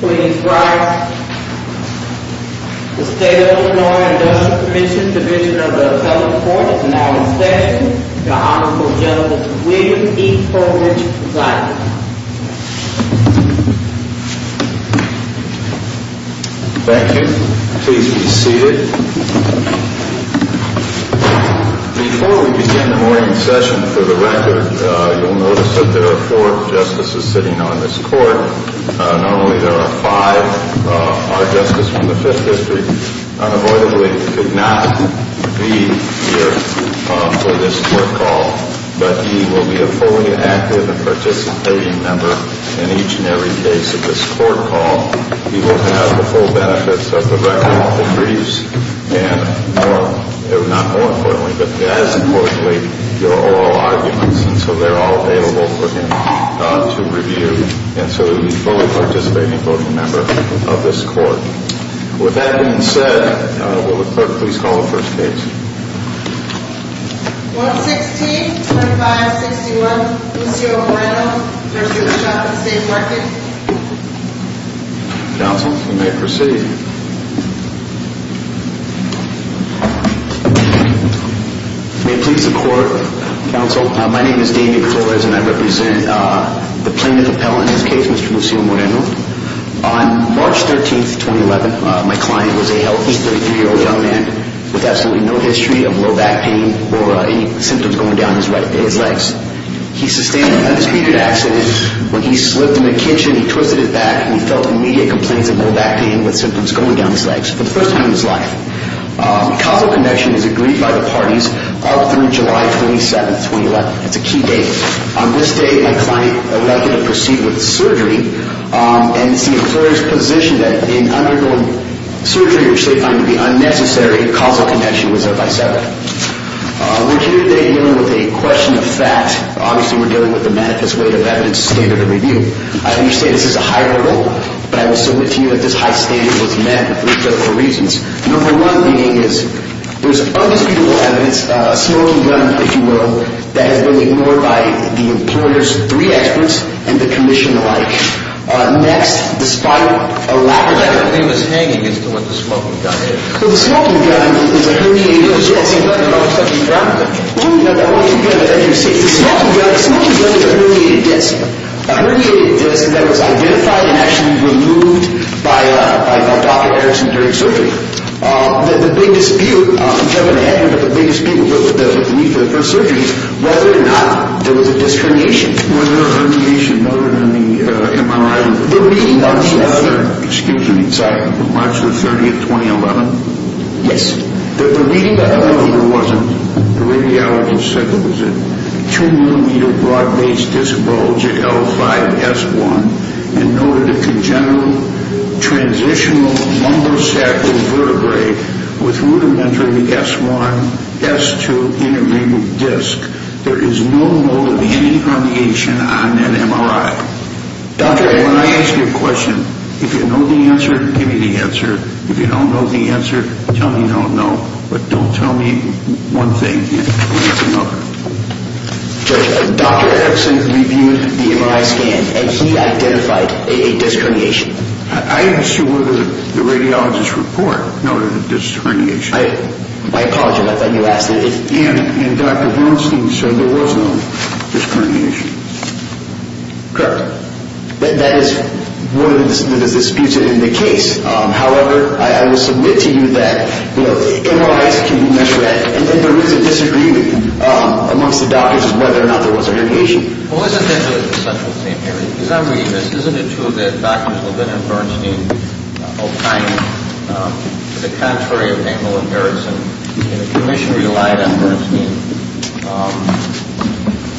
Please rise. The State of Illinois Industrial Commission Division of the Appellate Court is now in session. The Honorable Justice William E. Coleridge presides. Thank you. Please be seated. Before we begin the morning session, for the record, you'll notice that there are four justices sitting on this court. Normally there are five. Our justice from the Fifth District unavoidably could not be here for this court call. But he will be a fully active and participating member in each and every case of this court call. He will have the full benefits of the record, all the briefs, and more, not more importantly, but as importantly, your oral arguments. And so they're all available for him to review. And so he'll be a fully participating voting member of this court. With that being said, will the clerk please call the first case. 116-2561, Lucio Moreno v. Shop and State Market. Counsel, you may proceed. May it please the Court, Counsel. My name is Damian Flores and I represent the plaintiff appellant in this case, Mr. Lucio Moreno. On March 13, 2011, my client was a healthy 33-year-old young man with absolutely no history of low back pain or any symptoms going down his legs. He sustained an unexpected accident when he slipped in the kitchen, he twisted his back, and he felt immediate complaints of low back pain with symptoms going down his legs for the first time in his life. Causal connection is agreed by the parties up through July 27, 2011. That's a key date. On this date, my client elected to proceed with surgery, and it's the employer's position that in undergoing surgery, which they find to be unnecessary, causal connection was set by seven. We're here today dealing with a question of facts. Obviously, we're dealing with the manifest weight of evidence, standard of review. I understand this is a higher level, but I will submit to you that this high standard was met for a couple of reasons. Number one being is there's undisputable evidence, a smoking gun, if you will, that has been ignored by the employer's three experts and the commission alike. Next, despite a lack of evidence, the smoking gun is a herniated disc. A herniated disc that was identified and actually removed by Dr. Harrison during surgery. The big dispute going ahead with the first surgery was whether or not there was a disc herniation. Was there a herniation noted in the MRI report? When I ask you a question, if you know the answer, give me the answer. If you don't know the answer, tell me you don't know, but don't tell me one thing and leave it for another. Judge, Dr. Harrison reviewed the MRI scan and he identified a disc herniation. I asked you whether the radiologist's report noted a disc herniation. I apologize, I thought you asked that. And Dr. Bernstein said there was no disc herniation. Correct. That is one of the disputes in the case. However, I will submit to you that MRIs can be measured and there is a disagreement amongst the doctors as to whether or not there was a herniation. Isn't it true that Drs. Levin and Bernstein opined to the contrary of Hamill and Harrison and the commission relied on Bernstein?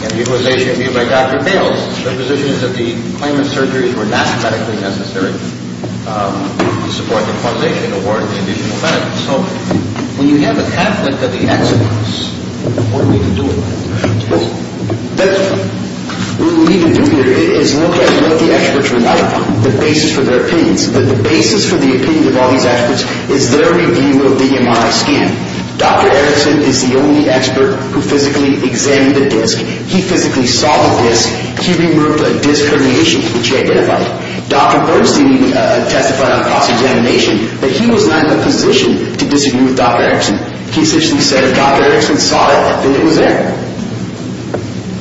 In the utilization review by Dr. Bales, the position is that the claimant's surgeries were not medically necessary to support the causation and award the additional medical. So when you have a conflict of the experts, what are we to do about it? What we need to do here is look at what the experts relied upon, the basis for their opinions. The basis for the opinion of all these experts is their review of the MRI scan. Dr. Harrison is the only expert who physically examined the disc. He physically saw the disc. He removed a disc herniation which he identified. Dr. Bernstein testified on cross-examination that he was not in a position to disagree with Dr. Harrison. He physically said if Dr. Harrison saw it, then it was there.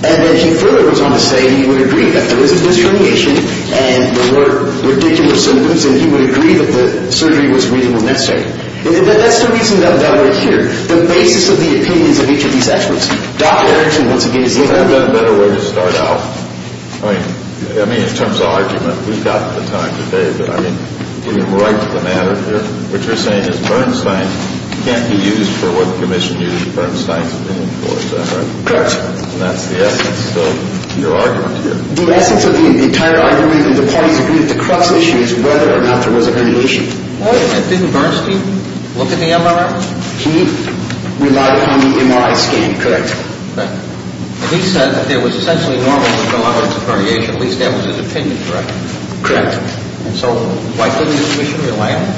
And then he further goes on to say he would agree that there was a disc herniation and there were ridiculous symptoms and he would agree that the surgery was a reasonable mistake. That's the reason that we're here. The basis of the opinions of each of these experts. I mean, in terms of argument, we've got the time today, but I mean, getting right to the matter here, what you're saying is Bernstein can't be used for what the commission used Bernstein's opinion for, is that right? Correct. And that's the essence of your argument here. The essence of the entire argument that the parties agreed that the crux issue is whether or not there was a herniation. Didn't Bernstein look in the MRI? He relied on the MRI scan, correct. Correct. And he said that it was essentially normal to go on with a herniation. At least that was his opinion, correct? Correct. So why couldn't the commission rely on it?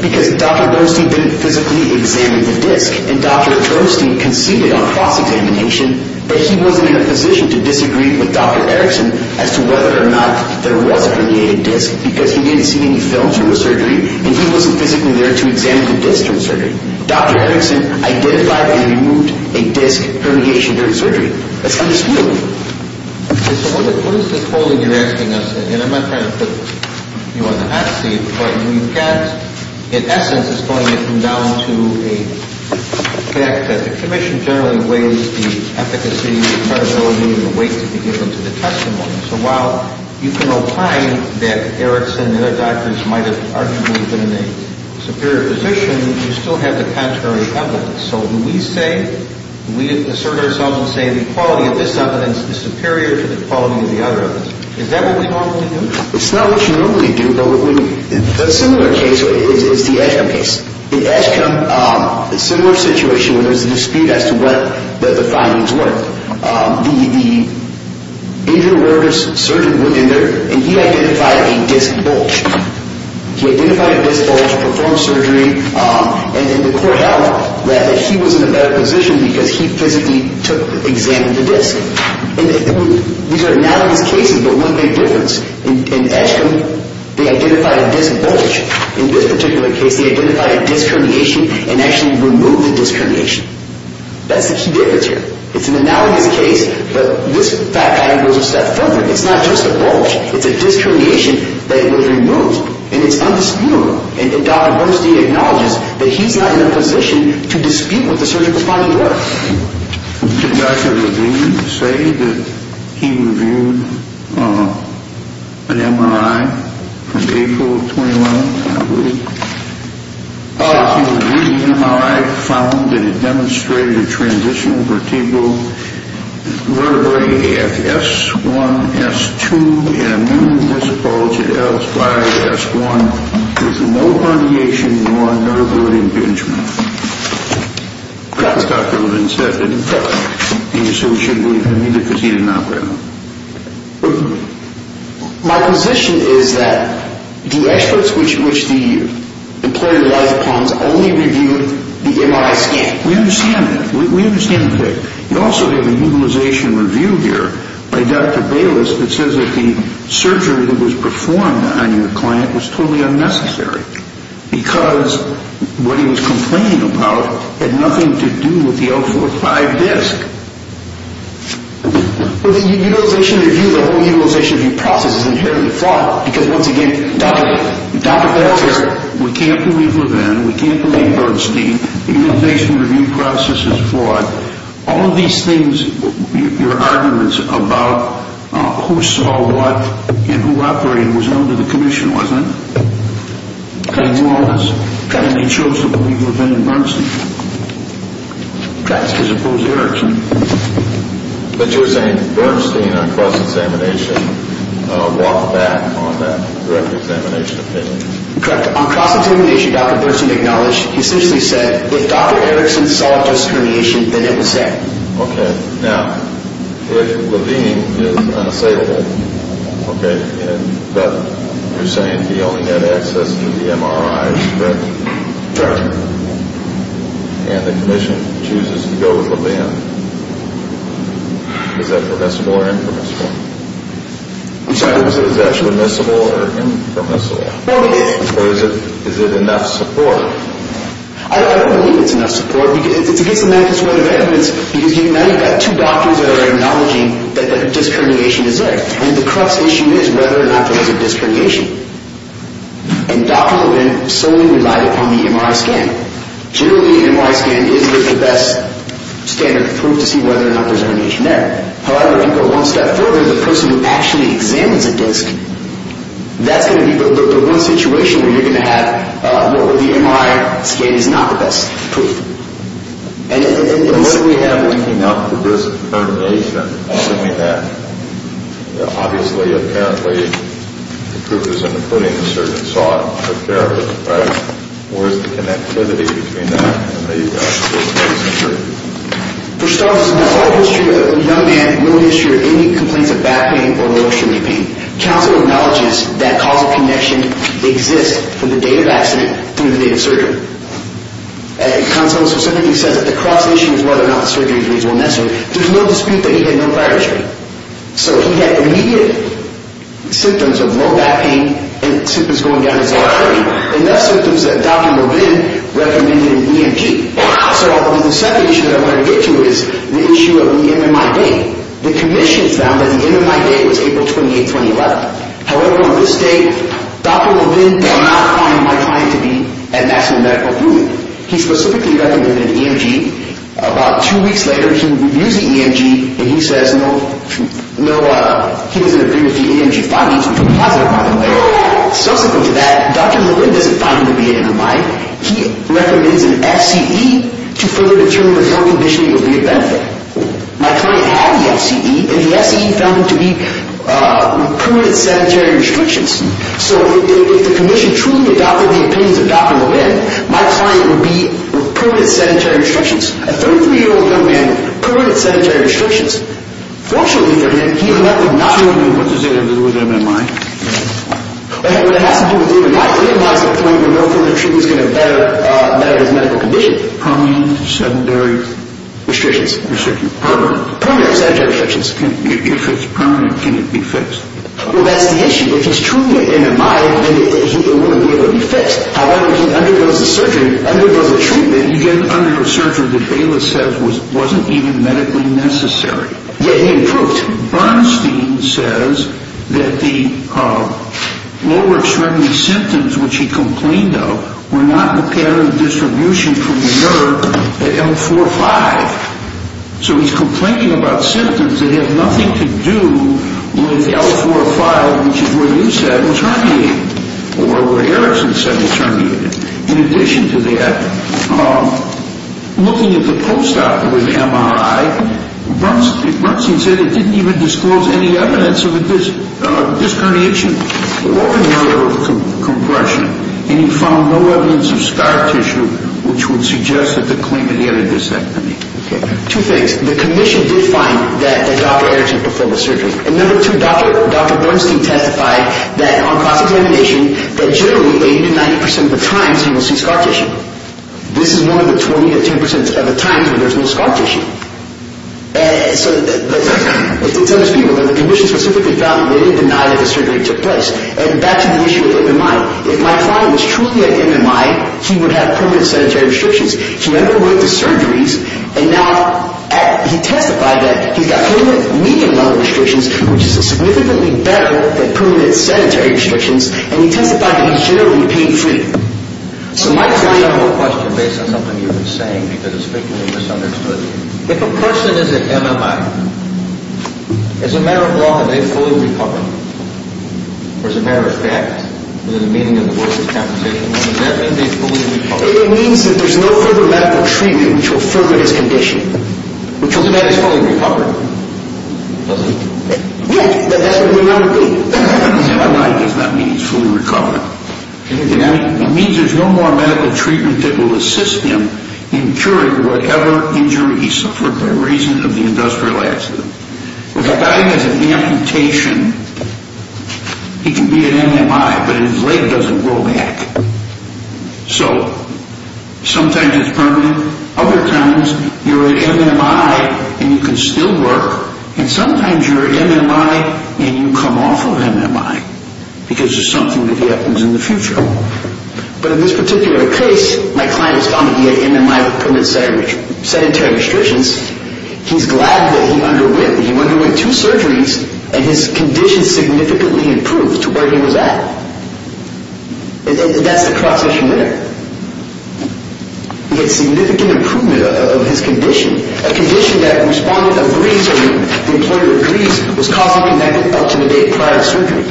Because Dr. Bernstein didn't physically examine the disc and Dr. Bernstein conceded on cross-examination that he wasn't in a position to disagree with Dr. Harrison as to whether or not there was a herniated disc because he didn't see any film through the surgery and he wasn't physically there to examine the disc through the surgery. Dr. Harrison identified and removed a disc herniation during surgery. That's how this moved. So what is this holding you're asking us? And I'm not trying to put you on the hot seat, but you can't, in essence, it's going to come down to a fact that the commission generally weighs the efficacy, the credibility, and the weight to be given to the testimony. So while you can opine that Harrison and other doctors might have arguably been in a superior position, you still have the contrary evidence. So do we say, do we assert ourselves and say the quality of this evidence is superior to the quality of the other evidence? Is that what we normally do? A similar case is the Edgecumbe case. In Edgecumbe, a similar situation where there's a dispute as to what the findings were. The injury awareness surgeon went in there and he identified a disc bulge. He identified a disc bulge, performed surgery, and the court held that he was in a better position because he physically examined the disc. These are analogous cases, but one big difference. In Edgecumbe, they identified a disc bulge. In this particular case, they identified a disc herniation and actually removed the disc herniation. That's the key difference here. It's an analogous case, but this fact goes a step further. It's not just a bulge. It's a disc herniation that was removed, and it's undisputable. And Dr. Bernstein acknowledges that he's not in a position to dispute what the surgical findings were. Did Dr. Levine say that he reviewed an MRI from April 21, I believe? He reviewed an MRI and found that it demonstrated a transitional vertebral vertebrae at S1, S2, and a new disc bulge at S5, S1 with no herniation or vertebrate impingement. That's what Dr. Levine said, didn't he? Correct. And he said we shouldn't believe him either because he didn't operate on him. My position is that the experts which the employee relies upon only reviewed the MRI scan. We understand that. We understand that. You also have a utilization review here by Dr. Bayless that says that the surgery that was performed on your client was totally unnecessary because what he was complaining about had nothing to do with the L45 disc. Well, the utilization review, the whole utilization review process is inherently flawed because, once again, Dr. Bayless says we can't believe Levine, we can't believe Bernstein. The utilization review process is flawed. All of these things, your arguments about who saw what and who operated was known to the commission, wasn't it? They knew all this, and they chose to believe Levine and Bernstein. That's to suppose Erickson. But you're saying Bernstein, on cross-examination, walked back on that direct examination opinion. Correct. On cross-examination, Dr. Bernstein acknowledged, he essentially said, if Dr. Erickson saw a disc herniation, then it was said. Okay. Now, if Levine did say that, okay, but you're saying he only had access to the MRIs, correct? Correct. And the commission chooses to go with Levine. Is that permissible or impermissible? I'm sorry? Is that permissible or impermissible? Okay. Or is it enough support? I don't believe it's enough support. It's against the medical school of developments because you've got two doctors that are acknowledging that a disc herniation is there. And the crux issue is whether or not there was a disc herniation. And doctors will then solely rely upon the MRI scan. Generally, an MRI scan isn't the best standard to prove to see whether or not there's a herniation there. However, if you go one step further, the person who actually examines a disc, that's going to be the one situation where you're going to have, well, the MRI scan is not the best tool. And what do we have linking up to disc herniation other than that? Obviously, apparently, the troopers and the pruning surgeon saw it and took care of it, right? Where's the connectivity between that and the medical school of developments? For starters, the whole history of the young man, no history of any complaints of back pain or motion or pain. Counsel acknowledges that causal connection exists from the day of accident through the day of surgery. And counsel specifically says that the crux issue is whether or not surgery is reasonable and necessary. There's no dispute that he had no prior history. So he had immediate symptoms of low back pain and symptoms going down his artery. And those symptoms that Dr. Mervin recommended in EMG. So the second issue that I want to get to is the issue of the MMI date. The commission found that the MMI date was April 28, 2011. However, on this date, Dr. Mervin did not find my client to be at maximum medical approval. He specifically recommended EMG. About two weeks later, he reviews the EMG, and he says, no, he doesn't agree with the EMG findings. He's a positive, by the way. Subsequent to that, Dr. Mervin doesn't find him to be at MMI. He recommends an FCE to further determine if your condition will be of benefit. My client had the FCE, and the FCE found them to be permanent sedentary restrictions. So if the commission truly adopted the opinions of Dr. Mervin, my client would be permanent sedentary restrictions. A 33-year-old young man, permanent sedentary restrictions. Fortunately for him, he would not have- So what does that have to do with MMI? Well, it has to do with MMI. MMI is the point where no further treatment is going to better his medical condition. If it's permanent sedentary- Restrictions. Restricted. Permanent. Permanent sedentary restrictions. If it's permanent, can it be fixed? Well, that's the issue. If he's truly at MMI, then he wouldn't be able to be fixed. However, if he undergoes a surgery, undergoes a treatment- He didn't undergo surgery that Bayless says wasn't even medically necessary. Yet he improved. Bernstein says that the lower extremity symptoms, which he complained of, were not the pattern of distribution from the nerve at L4-5. So he's complaining about symptoms that have nothing to do with L4-5, which is where you said was herniated, or where Erickson said was herniated. In addition to that, looking at the post-op with MMI, Bernstein said it didn't even disclose any evidence of a disc herniation It opened the door to compression, and he found no evidence of scar tissue, which would suggest that the claimant had a disc herniation. Okay. Two things. The commission did find that Dr. Erickson performed a surgery. And number two, Dr. Bernstein testified that on cross-examination, that generally 80% to 90% of the times he will see scar tissue. This is one of the 20% to 10% of the times where there's no scar tissue. So the commission specifically found that they did deny that the surgery took place. And back to the issue of MMI. If my client was truly at MMI, he would have permanent sanitary restrictions. He never went to surgeries. And now he testified that he's got permanent medium-level restrictions, which is significantly better than permanent sanitary restrictions. And he testified that he's generally pain-free. So my question is a question based on something you've been saying, because it's frequently misunderstood. If a person is at MMI, as a matter of law, are they fully recovered? Or as a matter of fact, is there a meaning in the words of this conversation? Does that mean they're fully recovered? It means that there's no further medical treatment which will further his condition. Which ultimately means he's fully recovered, doesn't he? Yes. Then that's what we want to do. I don't see why it does not mean he's fully recovered. It means there's no more medical treatment that will assist him in curing whatever injury he suffered for the reason of the industrial accident. If a guy has an amputation, he can be at MMI, but his leg doesn't grow back. So sometimes it's permanent. Other times you're at MMI and you can still work. And sometimes you're at MMI and you come off of MMI because there's something that happens in the future. But in this particular case, my client was found to be at MMI with permanent sedentary restrictions. He's glad that he underwent two surgeries, and his condition significantly improved to where he was at. That's the cross-section there. He had significant improvement of his condition, a condition that a respondent agrees on, the employer agrees, was causing him to not get up to the date prior to surgery.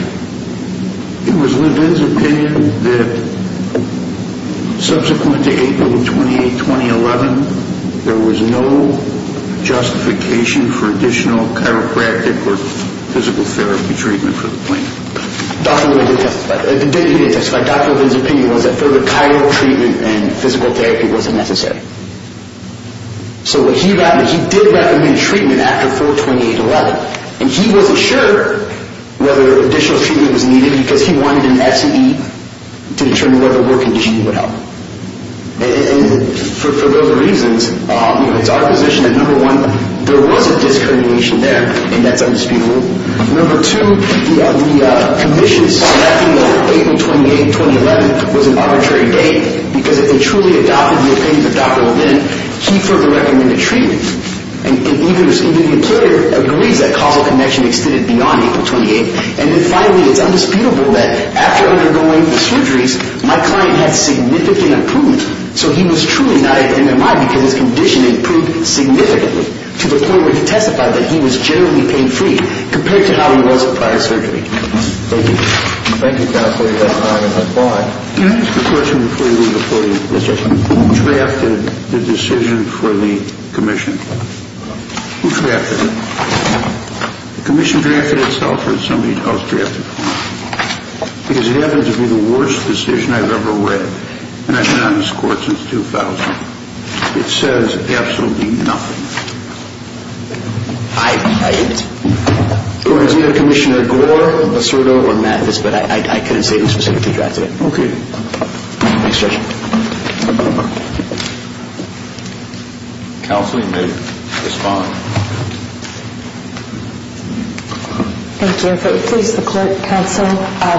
It was Levin's opinion that subsequent to April 28, 2011, there was no justification for additional chiropractic or physical therapy treatment for the plaintiff. Dr. Levin didn't testify. He didn't testify. Dr. Levin's opinion was that further chiro treatment and physical therapy wasn't necessary. So what he recommended, he did recommend treatment after April 28, 2011, and he wasn't sure whether additional treatment was needed because he wanted an S&E to determine whether work conditioning would help. And for those reasons, it's our position that, number one, there was a discrimination there, and that's undisputable. Number two, the conditions selecting April 28, 2011 was an arbitrary date because if they truly adopted the opinions of Dr. Levin, he further recommended treatment. And even the employer agrees that causal connection extended beyond April 28. And then finally, it's undisputable that after undergoing the surgeries, my client had significant improvement. So he was truly not at MMI because his condition improved significantly to the point where he testified that he was generally pain-free compared to how he was at prior surgery. Thank you. Thank you, Counselor. Can I ask a question before you leave the podium? Yes, sir. Who drafted the decision for the commission? Who drafted it? The commission drafted it itself or somebody else drafted it? Because it happens to be the worst decision I've ever read, and I've been on this Court since 2000. It says absolutely nothing. I've typed. We have Commissioner Gore, Basurdo, or Mathis, but I couldn't say who specifically drafted it. Okay. Next question. Counselor, you may respond. Thank you. If it pleases the Court, Counsel,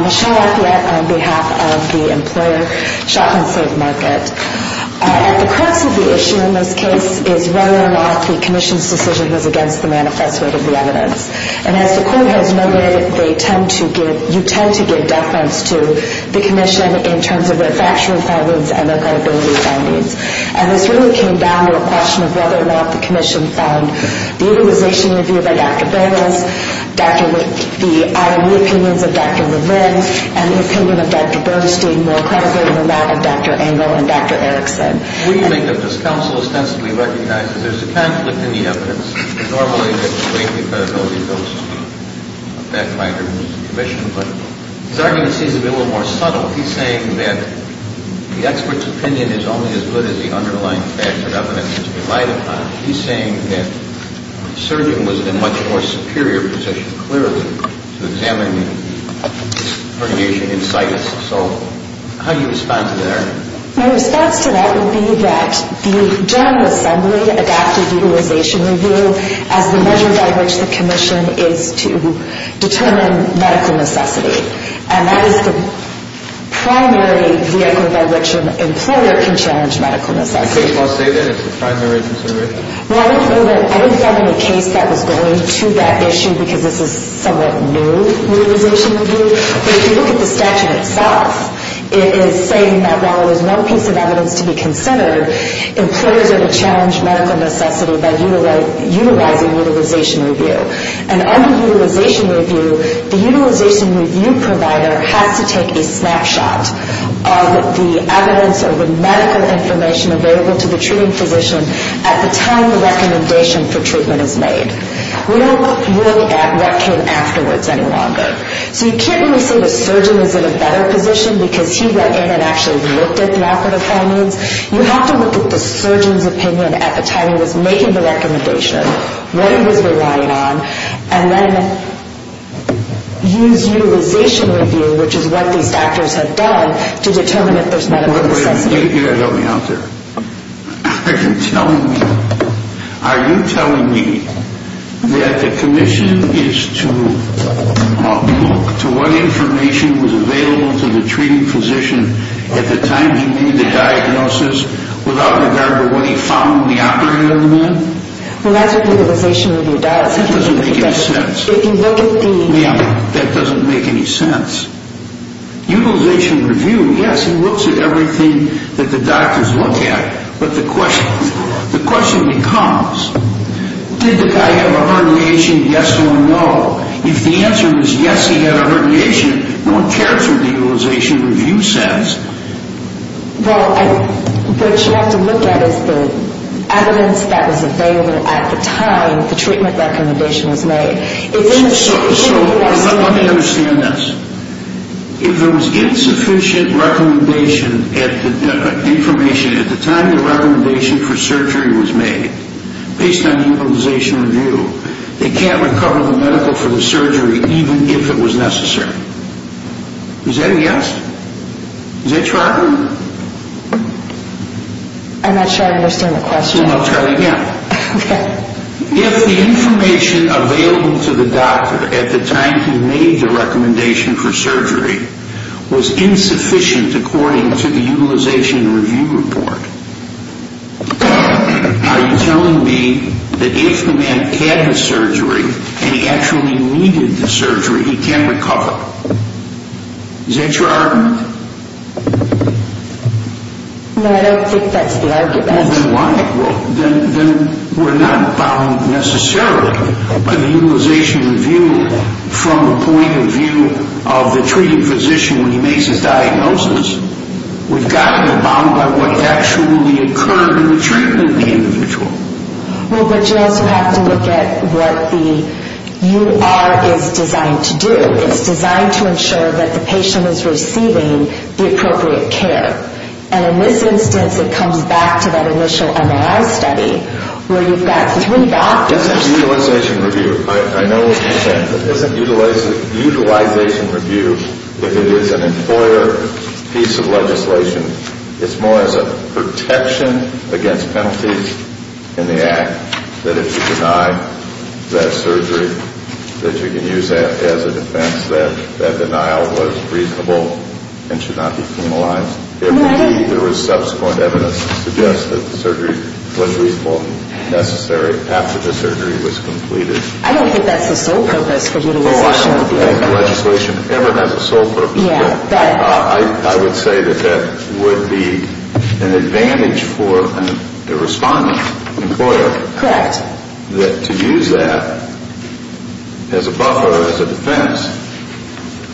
Michelle Athlet on behalf of the employer Shop and Save Market. At the crux of the issue in this case is whether or not the commission's decision was against the manifesto of the evidence. And as the Court has noted, you tend to give deference to the commission in terms of their factual findings and their credibility findings. And this really came down to a question of whether or not the commission found the organization reviewed by Dr. Berges, the IRB opinions of Dr. Levin, and the opinion of Dr. Bernstein more credible than that of Dr. Engel and Dr. Erickson. When you make up this counsel ostensibly recognizes there's a conflict in the evidence. Normally, it's the credibility of those fact-finders and the commission, but his argument seems to be a little more subtle. He's saying that the expert's opinion is only as good as the underlying fact that evidence is relied upon. He's saying that the surgeon was in a much more superior position, clearly, to examine the herniation in situs. So how do you respond to that argument? My response to that would be that the General Assembly adopted the utilization review as the measure by which the commission is to determine medical necessity. And that is the primary vehicle by which an employer can challenge medical necessity. Does the case law say that it's the primary consideration? Well, I didn't find any case that was going to that issue because this is a somewhat new utilization review. But if you look at the statute itself, it is saying that while there's one piece of evidence to be considered, employers are to challenge medical necessity by utilizing utilization review. And under utilization review, the utilization review provider has to take a snapshot of the evidence or the medical information available to the treating physician at the time the recommendation for treatment is made. We don't look at what came afterwards any longer. So you can't really say the surgeon is in a better position because he went in and actually looked at the operative findings. You have to look at the surgeon's opinion at the time he was making the recommendation, what he was relying on, and then use utilization review, which is what these doctors have done, to determine if there's medical necessity. Wait a minute. You've got to help me out there. Are you telling me that the commission is to look to what information was available to the treating physician at the time he made the diagnosis without regard to what he found in the operative domain? Well, that's what utilization review does. That doesn't make any sense. If you look at the— Ma'am, that doesn't make any sense. Utilization review, yes, it looks at everything that the doctors look at, but the question becomes, did the guy have a herniation, yes or no? If the answer is yes, he had a herniation, no one cares what the utilization review says. Well, what you have to look at is the evidence that was available at the time the treatment recommendation was made. So let me understand this. If there was insufficient information at the time the recommendation for surgery was made, based on the utilization review, they can't recover the medical for the surgery even if it was necessary. Is that a yes? Is that true? I'm not sure I understand the question. I'll try it again. Okay. If the information available to the doctor at the time he made the recommendation for surgery was insufficient according to the utilization review report, are you telling me that if the man had the surgery and he actually needed the surgery, he can recover? Is that your argument? No, I don't think that's the argument. Well, then why? Then we're not bound necessarily by the utilization review from the point of view of the treated physician when he makes his diagnosis. We've got to be bound by what actually occurred in the treatment of the individual. Well, but you also have to look at what the UR is designed to do. It's designed to ensure that the patient is receiving the appropriate care. And in this instance, it comes back to that initial MRI study where you've got three doctors. It isn't utilization review. I know what you're saying. It isn't utilization review if it is an employer piece of legislation. It's more as a protection against penalties in the act, that if you deny that surgery, that you can use that as a defense that that denial was reasonable and should not be penalized. If there was subsequent evidence to suggest that the surgery was reasonable, necessary after the surgery was completed. I don't think that's the sole purpose for utilization review. Oh, I don't think the legislation ever has a sole purpose. I would say that that would be an advantage for a respondent, an employer. Correct. I would say that to use that as a buffer, as a defense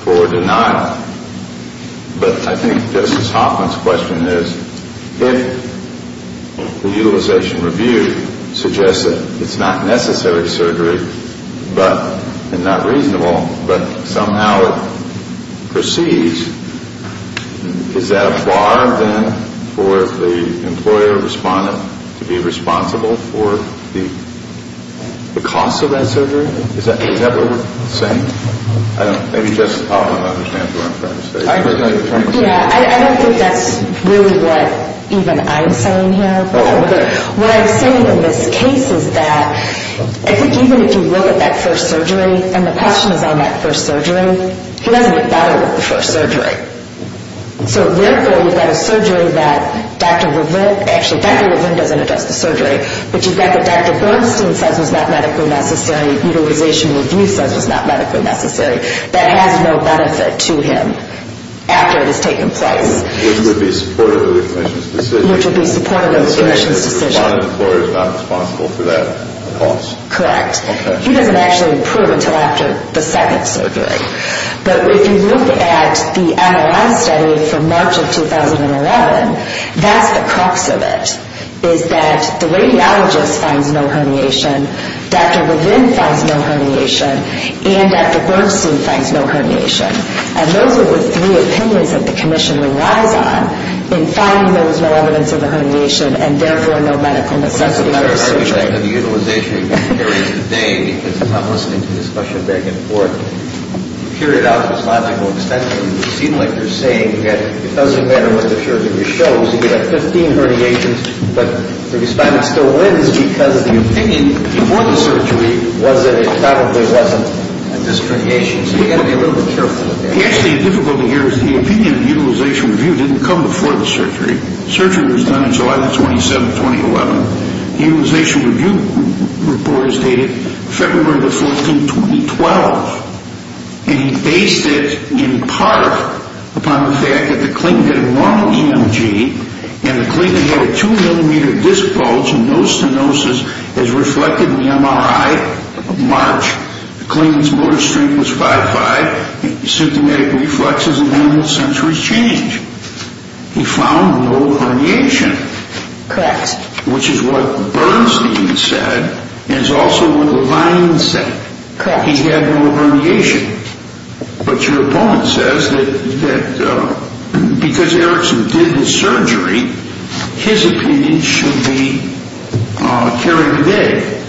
for denial. But I think Justice Hoffman's question is, if the utilization review suggests that it's not necessary surgery and not reasonable, but somehow it proceeds, is that a bar then for the employer respondent to be responsible for the cost of that surgery? Is that what you're saying? I don't know. Maybe Justice Hoffman understands where I'm coming from. Yeah, I don't think that's really what even I'm saying here. What I'm saying in this case is that I think even if you look at that first surgery, and the question is on that first surgery, he doesn't get better with the first surgery. So, therefore, you've got a surgery that Dr. Levin, actually Dr. Levin doesn't address the surgery, but you've got what Dr. Bernstein says was not medically necessary, utilization review says was not medically necessary, that has no benefit to him after it has taken place. Which would be supportive of the commission's decision. Which would be supportive of the commission's decision. So the respondent employer is not responsible for that cost. Correct. He doesn't actually improve until after the second surgery. Okay. But if you look at the MRI study from March of 2011, that's the crux of it, is that the radiologist finds no herniation, Dr. Levin finds no herniation, and Dr. Bernstein finds no herniation. And those are the three opinions that the commission relies on in finding there was no evidence of a herniation and, therefore, no medically necessary surgery. I'm going to argue back to the utilization review areas today because I'm not listening to the discussion back and forth. To carry it out to this logical extent, it would seem like you're saying that it doesn't matter what the surgery shows. You've got 15 herniations, but the respondent still wins because the opinion before the surgery was that it probably wasn't a disc herniation. So you've got to be a little bit careful with that. Actually, the difficulty here is the opinion in the utilization review didn't come before the surgery. The surgery was done on July 27, 2011. The utilization review report is dated February 14, 2012, and he based it in part upon the fact that the clinic had a normal EMG and the clinic had a 2-millimeter disc bulge and no stenosis as reflected in the MRI of March. The clinic's motor strength was 5.5. The symptomatic reflexes and animal sensory change. He found no herniation. Correct. Which is what Bernstein said and is also what the line said. Correct. He had no herniation. But your opponent says that because Erickson did his surgery, his opinion should be carried today.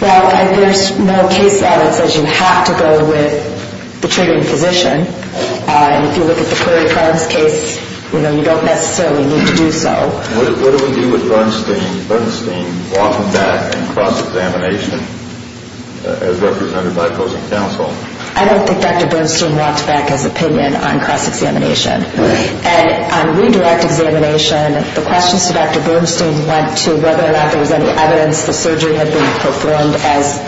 Well, there's no case that says you have to go with the treating physician. If you look at the Prairie Farms case, you don't necessarily need to do so. What do we do with Bernstein walking back in cross-examination as represented by opposing counsel? I don't think Dr. Bernstein walked back his opinion on cross-examination. And on redirect examination, the questions to Dr. Bernstein went to whether or not there was any evidence the surgery had been performed as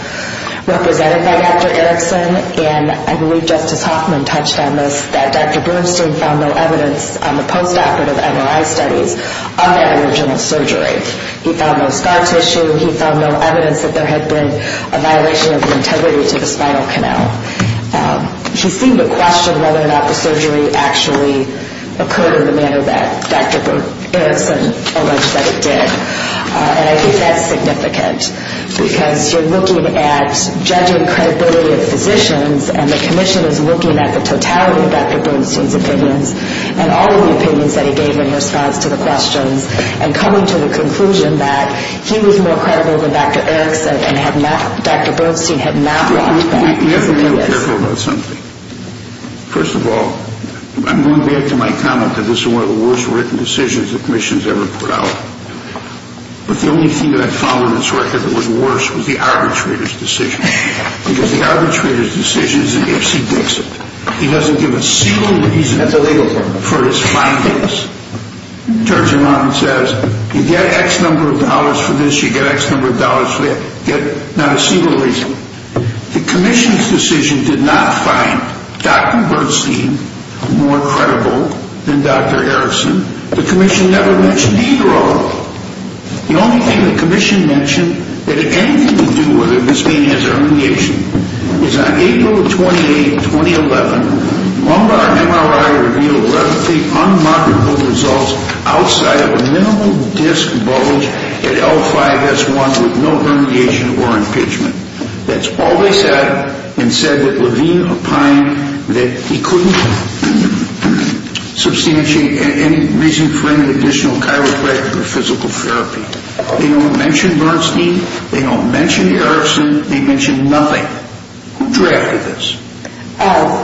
represented by Dr. Erickson. And I believe Justice Hoffman touched on this, that Dr. Bernstein found no evidence on the post-operative MRI studies on that original surgery. He found no scar tissue. He found no evidence that there had been a violation of integrity to the spinal canal. He seemed to question whether or not the surgery actually occurred in the manner that Dr. Erickson alleged that it did. And I think that's significant, because you're looking at judging credibility of physicians, and the commission is looking at the totality of Dr. Bernstein's opinions and all of the opinions that he gave in response to the questions and coming to the conclusion that he was more credible than Dr. Erickson and Dr. Bernstein had not walked back his opinion. We have to be careful about something. First of all, I'm going back to my comment that this is one of the worst written decisions the commission has ever put out. But the only thing that I found on this record that was worse was the arbitrator's decision. Because the arbitrator's decision is an Ipsy Dixit. He doesn't give a single reason for his findings. He turns them on and says, you get X number of dollars for this, you get X number of dollars for that. Not a single reason. The commission's decision did not find Dr. Bernstein more credible than Dr. Erickson. The commission never mentioned either of them. The only thing the commission mentioned that had anything to do with it, this being his herniation, was on April 28, 2011, Lombard MRI revealed relatively unmarked results outside of a minimal disc bulge at L5-S1 with no herniation or impeachment. That's all they said. And said that Levine opined that he couldn't substantiate any reason for any additional chiropractic or physical therapy. They don't mention Bernstein. They don't mention Erickson. They mention nothing. Who drafted this?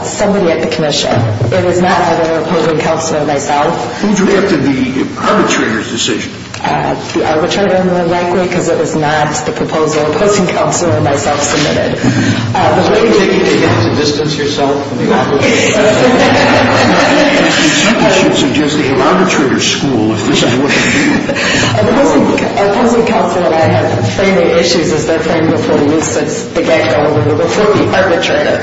Somebody at the commission. It is not either a program counselor or myself. Who drafted the arbitrator's decision? The arbitrator, more likely, because it was not the proposal a person counselor or myself submitted. Does that mean you have to distance yourself from the arbitrator? I'm not suggesting you should suggest the arbitrator's school if this is what they're doing. A person counselor and I have framing issues as they're framed before the instance, the guy going over there, before the arbitrator.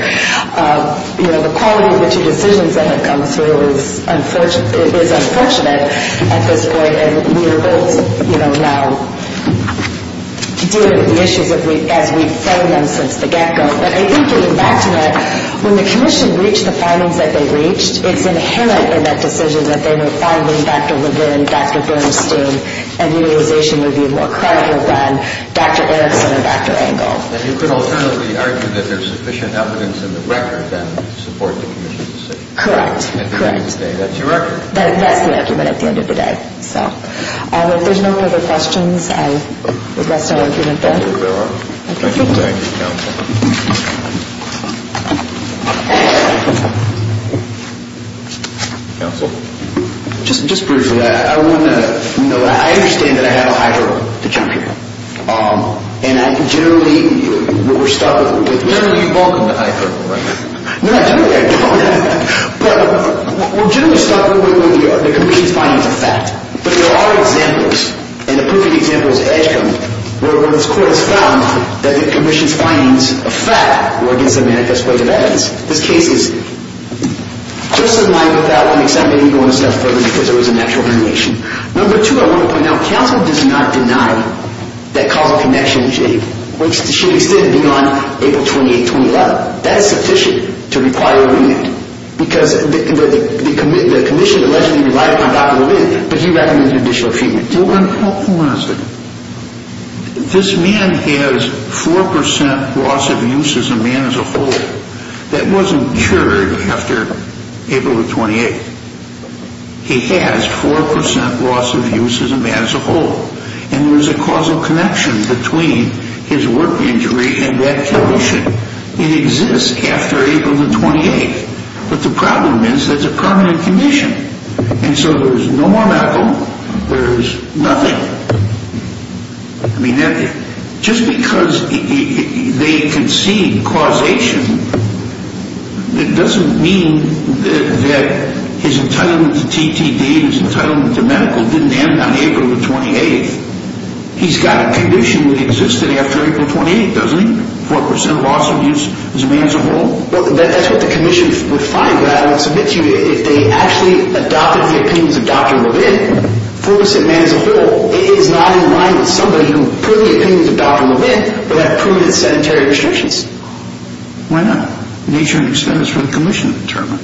The quality of the two decisions that have come through is unfortunate at this point, and we are both now dealing with the issues as we frame them since the get-go. But I think, getting back to that, when the commission reached the findings that they reached, it's inherent in that decision that they were finding Dr. Levine, Dr. Bernstein, and utilization would be more credible than Dr. Erickson or Dr. Engel. Then you could alternatively argue that there's sufficient evidence in the record to support the commission's decision. Correct. That's your record. That's the argument at the end of the day. If there's no other questions, I would rest our argument there. Thank you very much. Thank you. Counsel. Just briefly, I understand that I have a hydro to jump here. Generally, we're stuck with the commission's findings of fact. But there are examples, and a proof of the example is Edgecombe, where this Court has found that the commission's findings of fact were against a manifest way of evidence. This case is just in line with that. I'm going to step further because there was a natural variation. Number two, I want to point out, counsel does not deny that causal connection to Shady State beyond April 28, 2011. That is sufficient to require a remand because the commission allegedly relied upon Dr. Levine, but he recommended additional treatment. Hold on a second. This man has 4% loss of use as a man as a whole. That wasn't cured after April the 28th. He has 4% loss of use as a man as a whole. And there was a causal connection between his work injury and that condition. It exists after April the 28th. But the problem is that it's a permanent condition. And so there's no more medical. There's nothing. I mean, just because they concede causation, it doesn't mean that his entitlement to TTD and his entitlement to medical didn't end on April the 28th. He's got a condition that existed after April the 28th, doesn't he? 4% loss of use as a man as a whole. Well, that's what the commission would find. If they actually adopted the opinions of Dr. Levine, 4% man as a whole, it is not in line with somebody who, per the opinions of Dr. Levine, would have permanent sedentary restrictions. Why not? Nature and extent is for the commission to determine.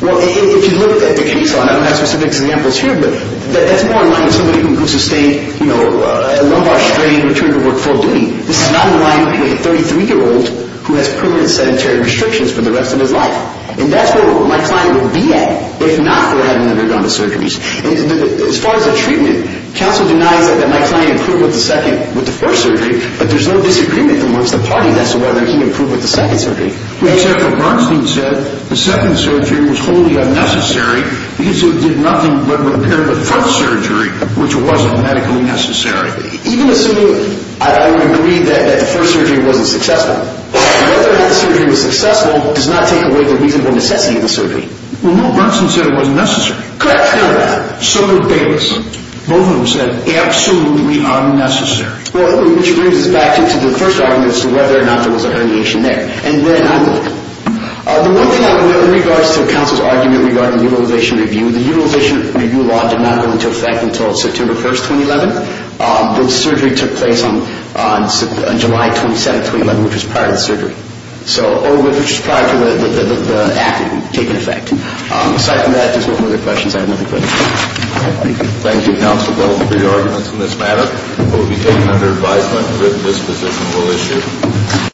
Well, if you look at the case, I don't have specific examples here, but that's more in line with somebody who sustained a lumbar strain and returned to work full duty. This is not in line with a 33-year-old who has permanent sedentary restrictions for the rest of his life. And that's where my client would be at if not for having undergone the surgeries. As far as the treatment, counsel denies that my client improved with the first surgery, but there's no disagreement amongst the party as to whether he improved with the second surgery. Except that Bernstein said the second surgery was wholly unnecessary because it did nothing but repair the first surgery, which wasn't medically necessary. Even assuming, I would agree that the first surgery wasn't successful. Whether or not the surgery was successful does not take away the reasonable necessity of the surgery. Well, no, Bernstein said it wasn't necessary. Correct. So did Bayless. Both of them said absolutely unnecessary. Which brings us back to the first argument as to whether or not there was a herniation there. And then the one thing in regards to counsel's argument regarding the utilization review, the utilization review law did not go into effect until September 1, 2011. The surgery took place on July 27, 2011, which was prior to the surgery, or which was prior to the act taking effect. Aside from that, if there's no further questions, I have nothing further to say. Thank you. Thank you, counsel, both for your arguments on this matter. It will be taken under advisement that this position will issue.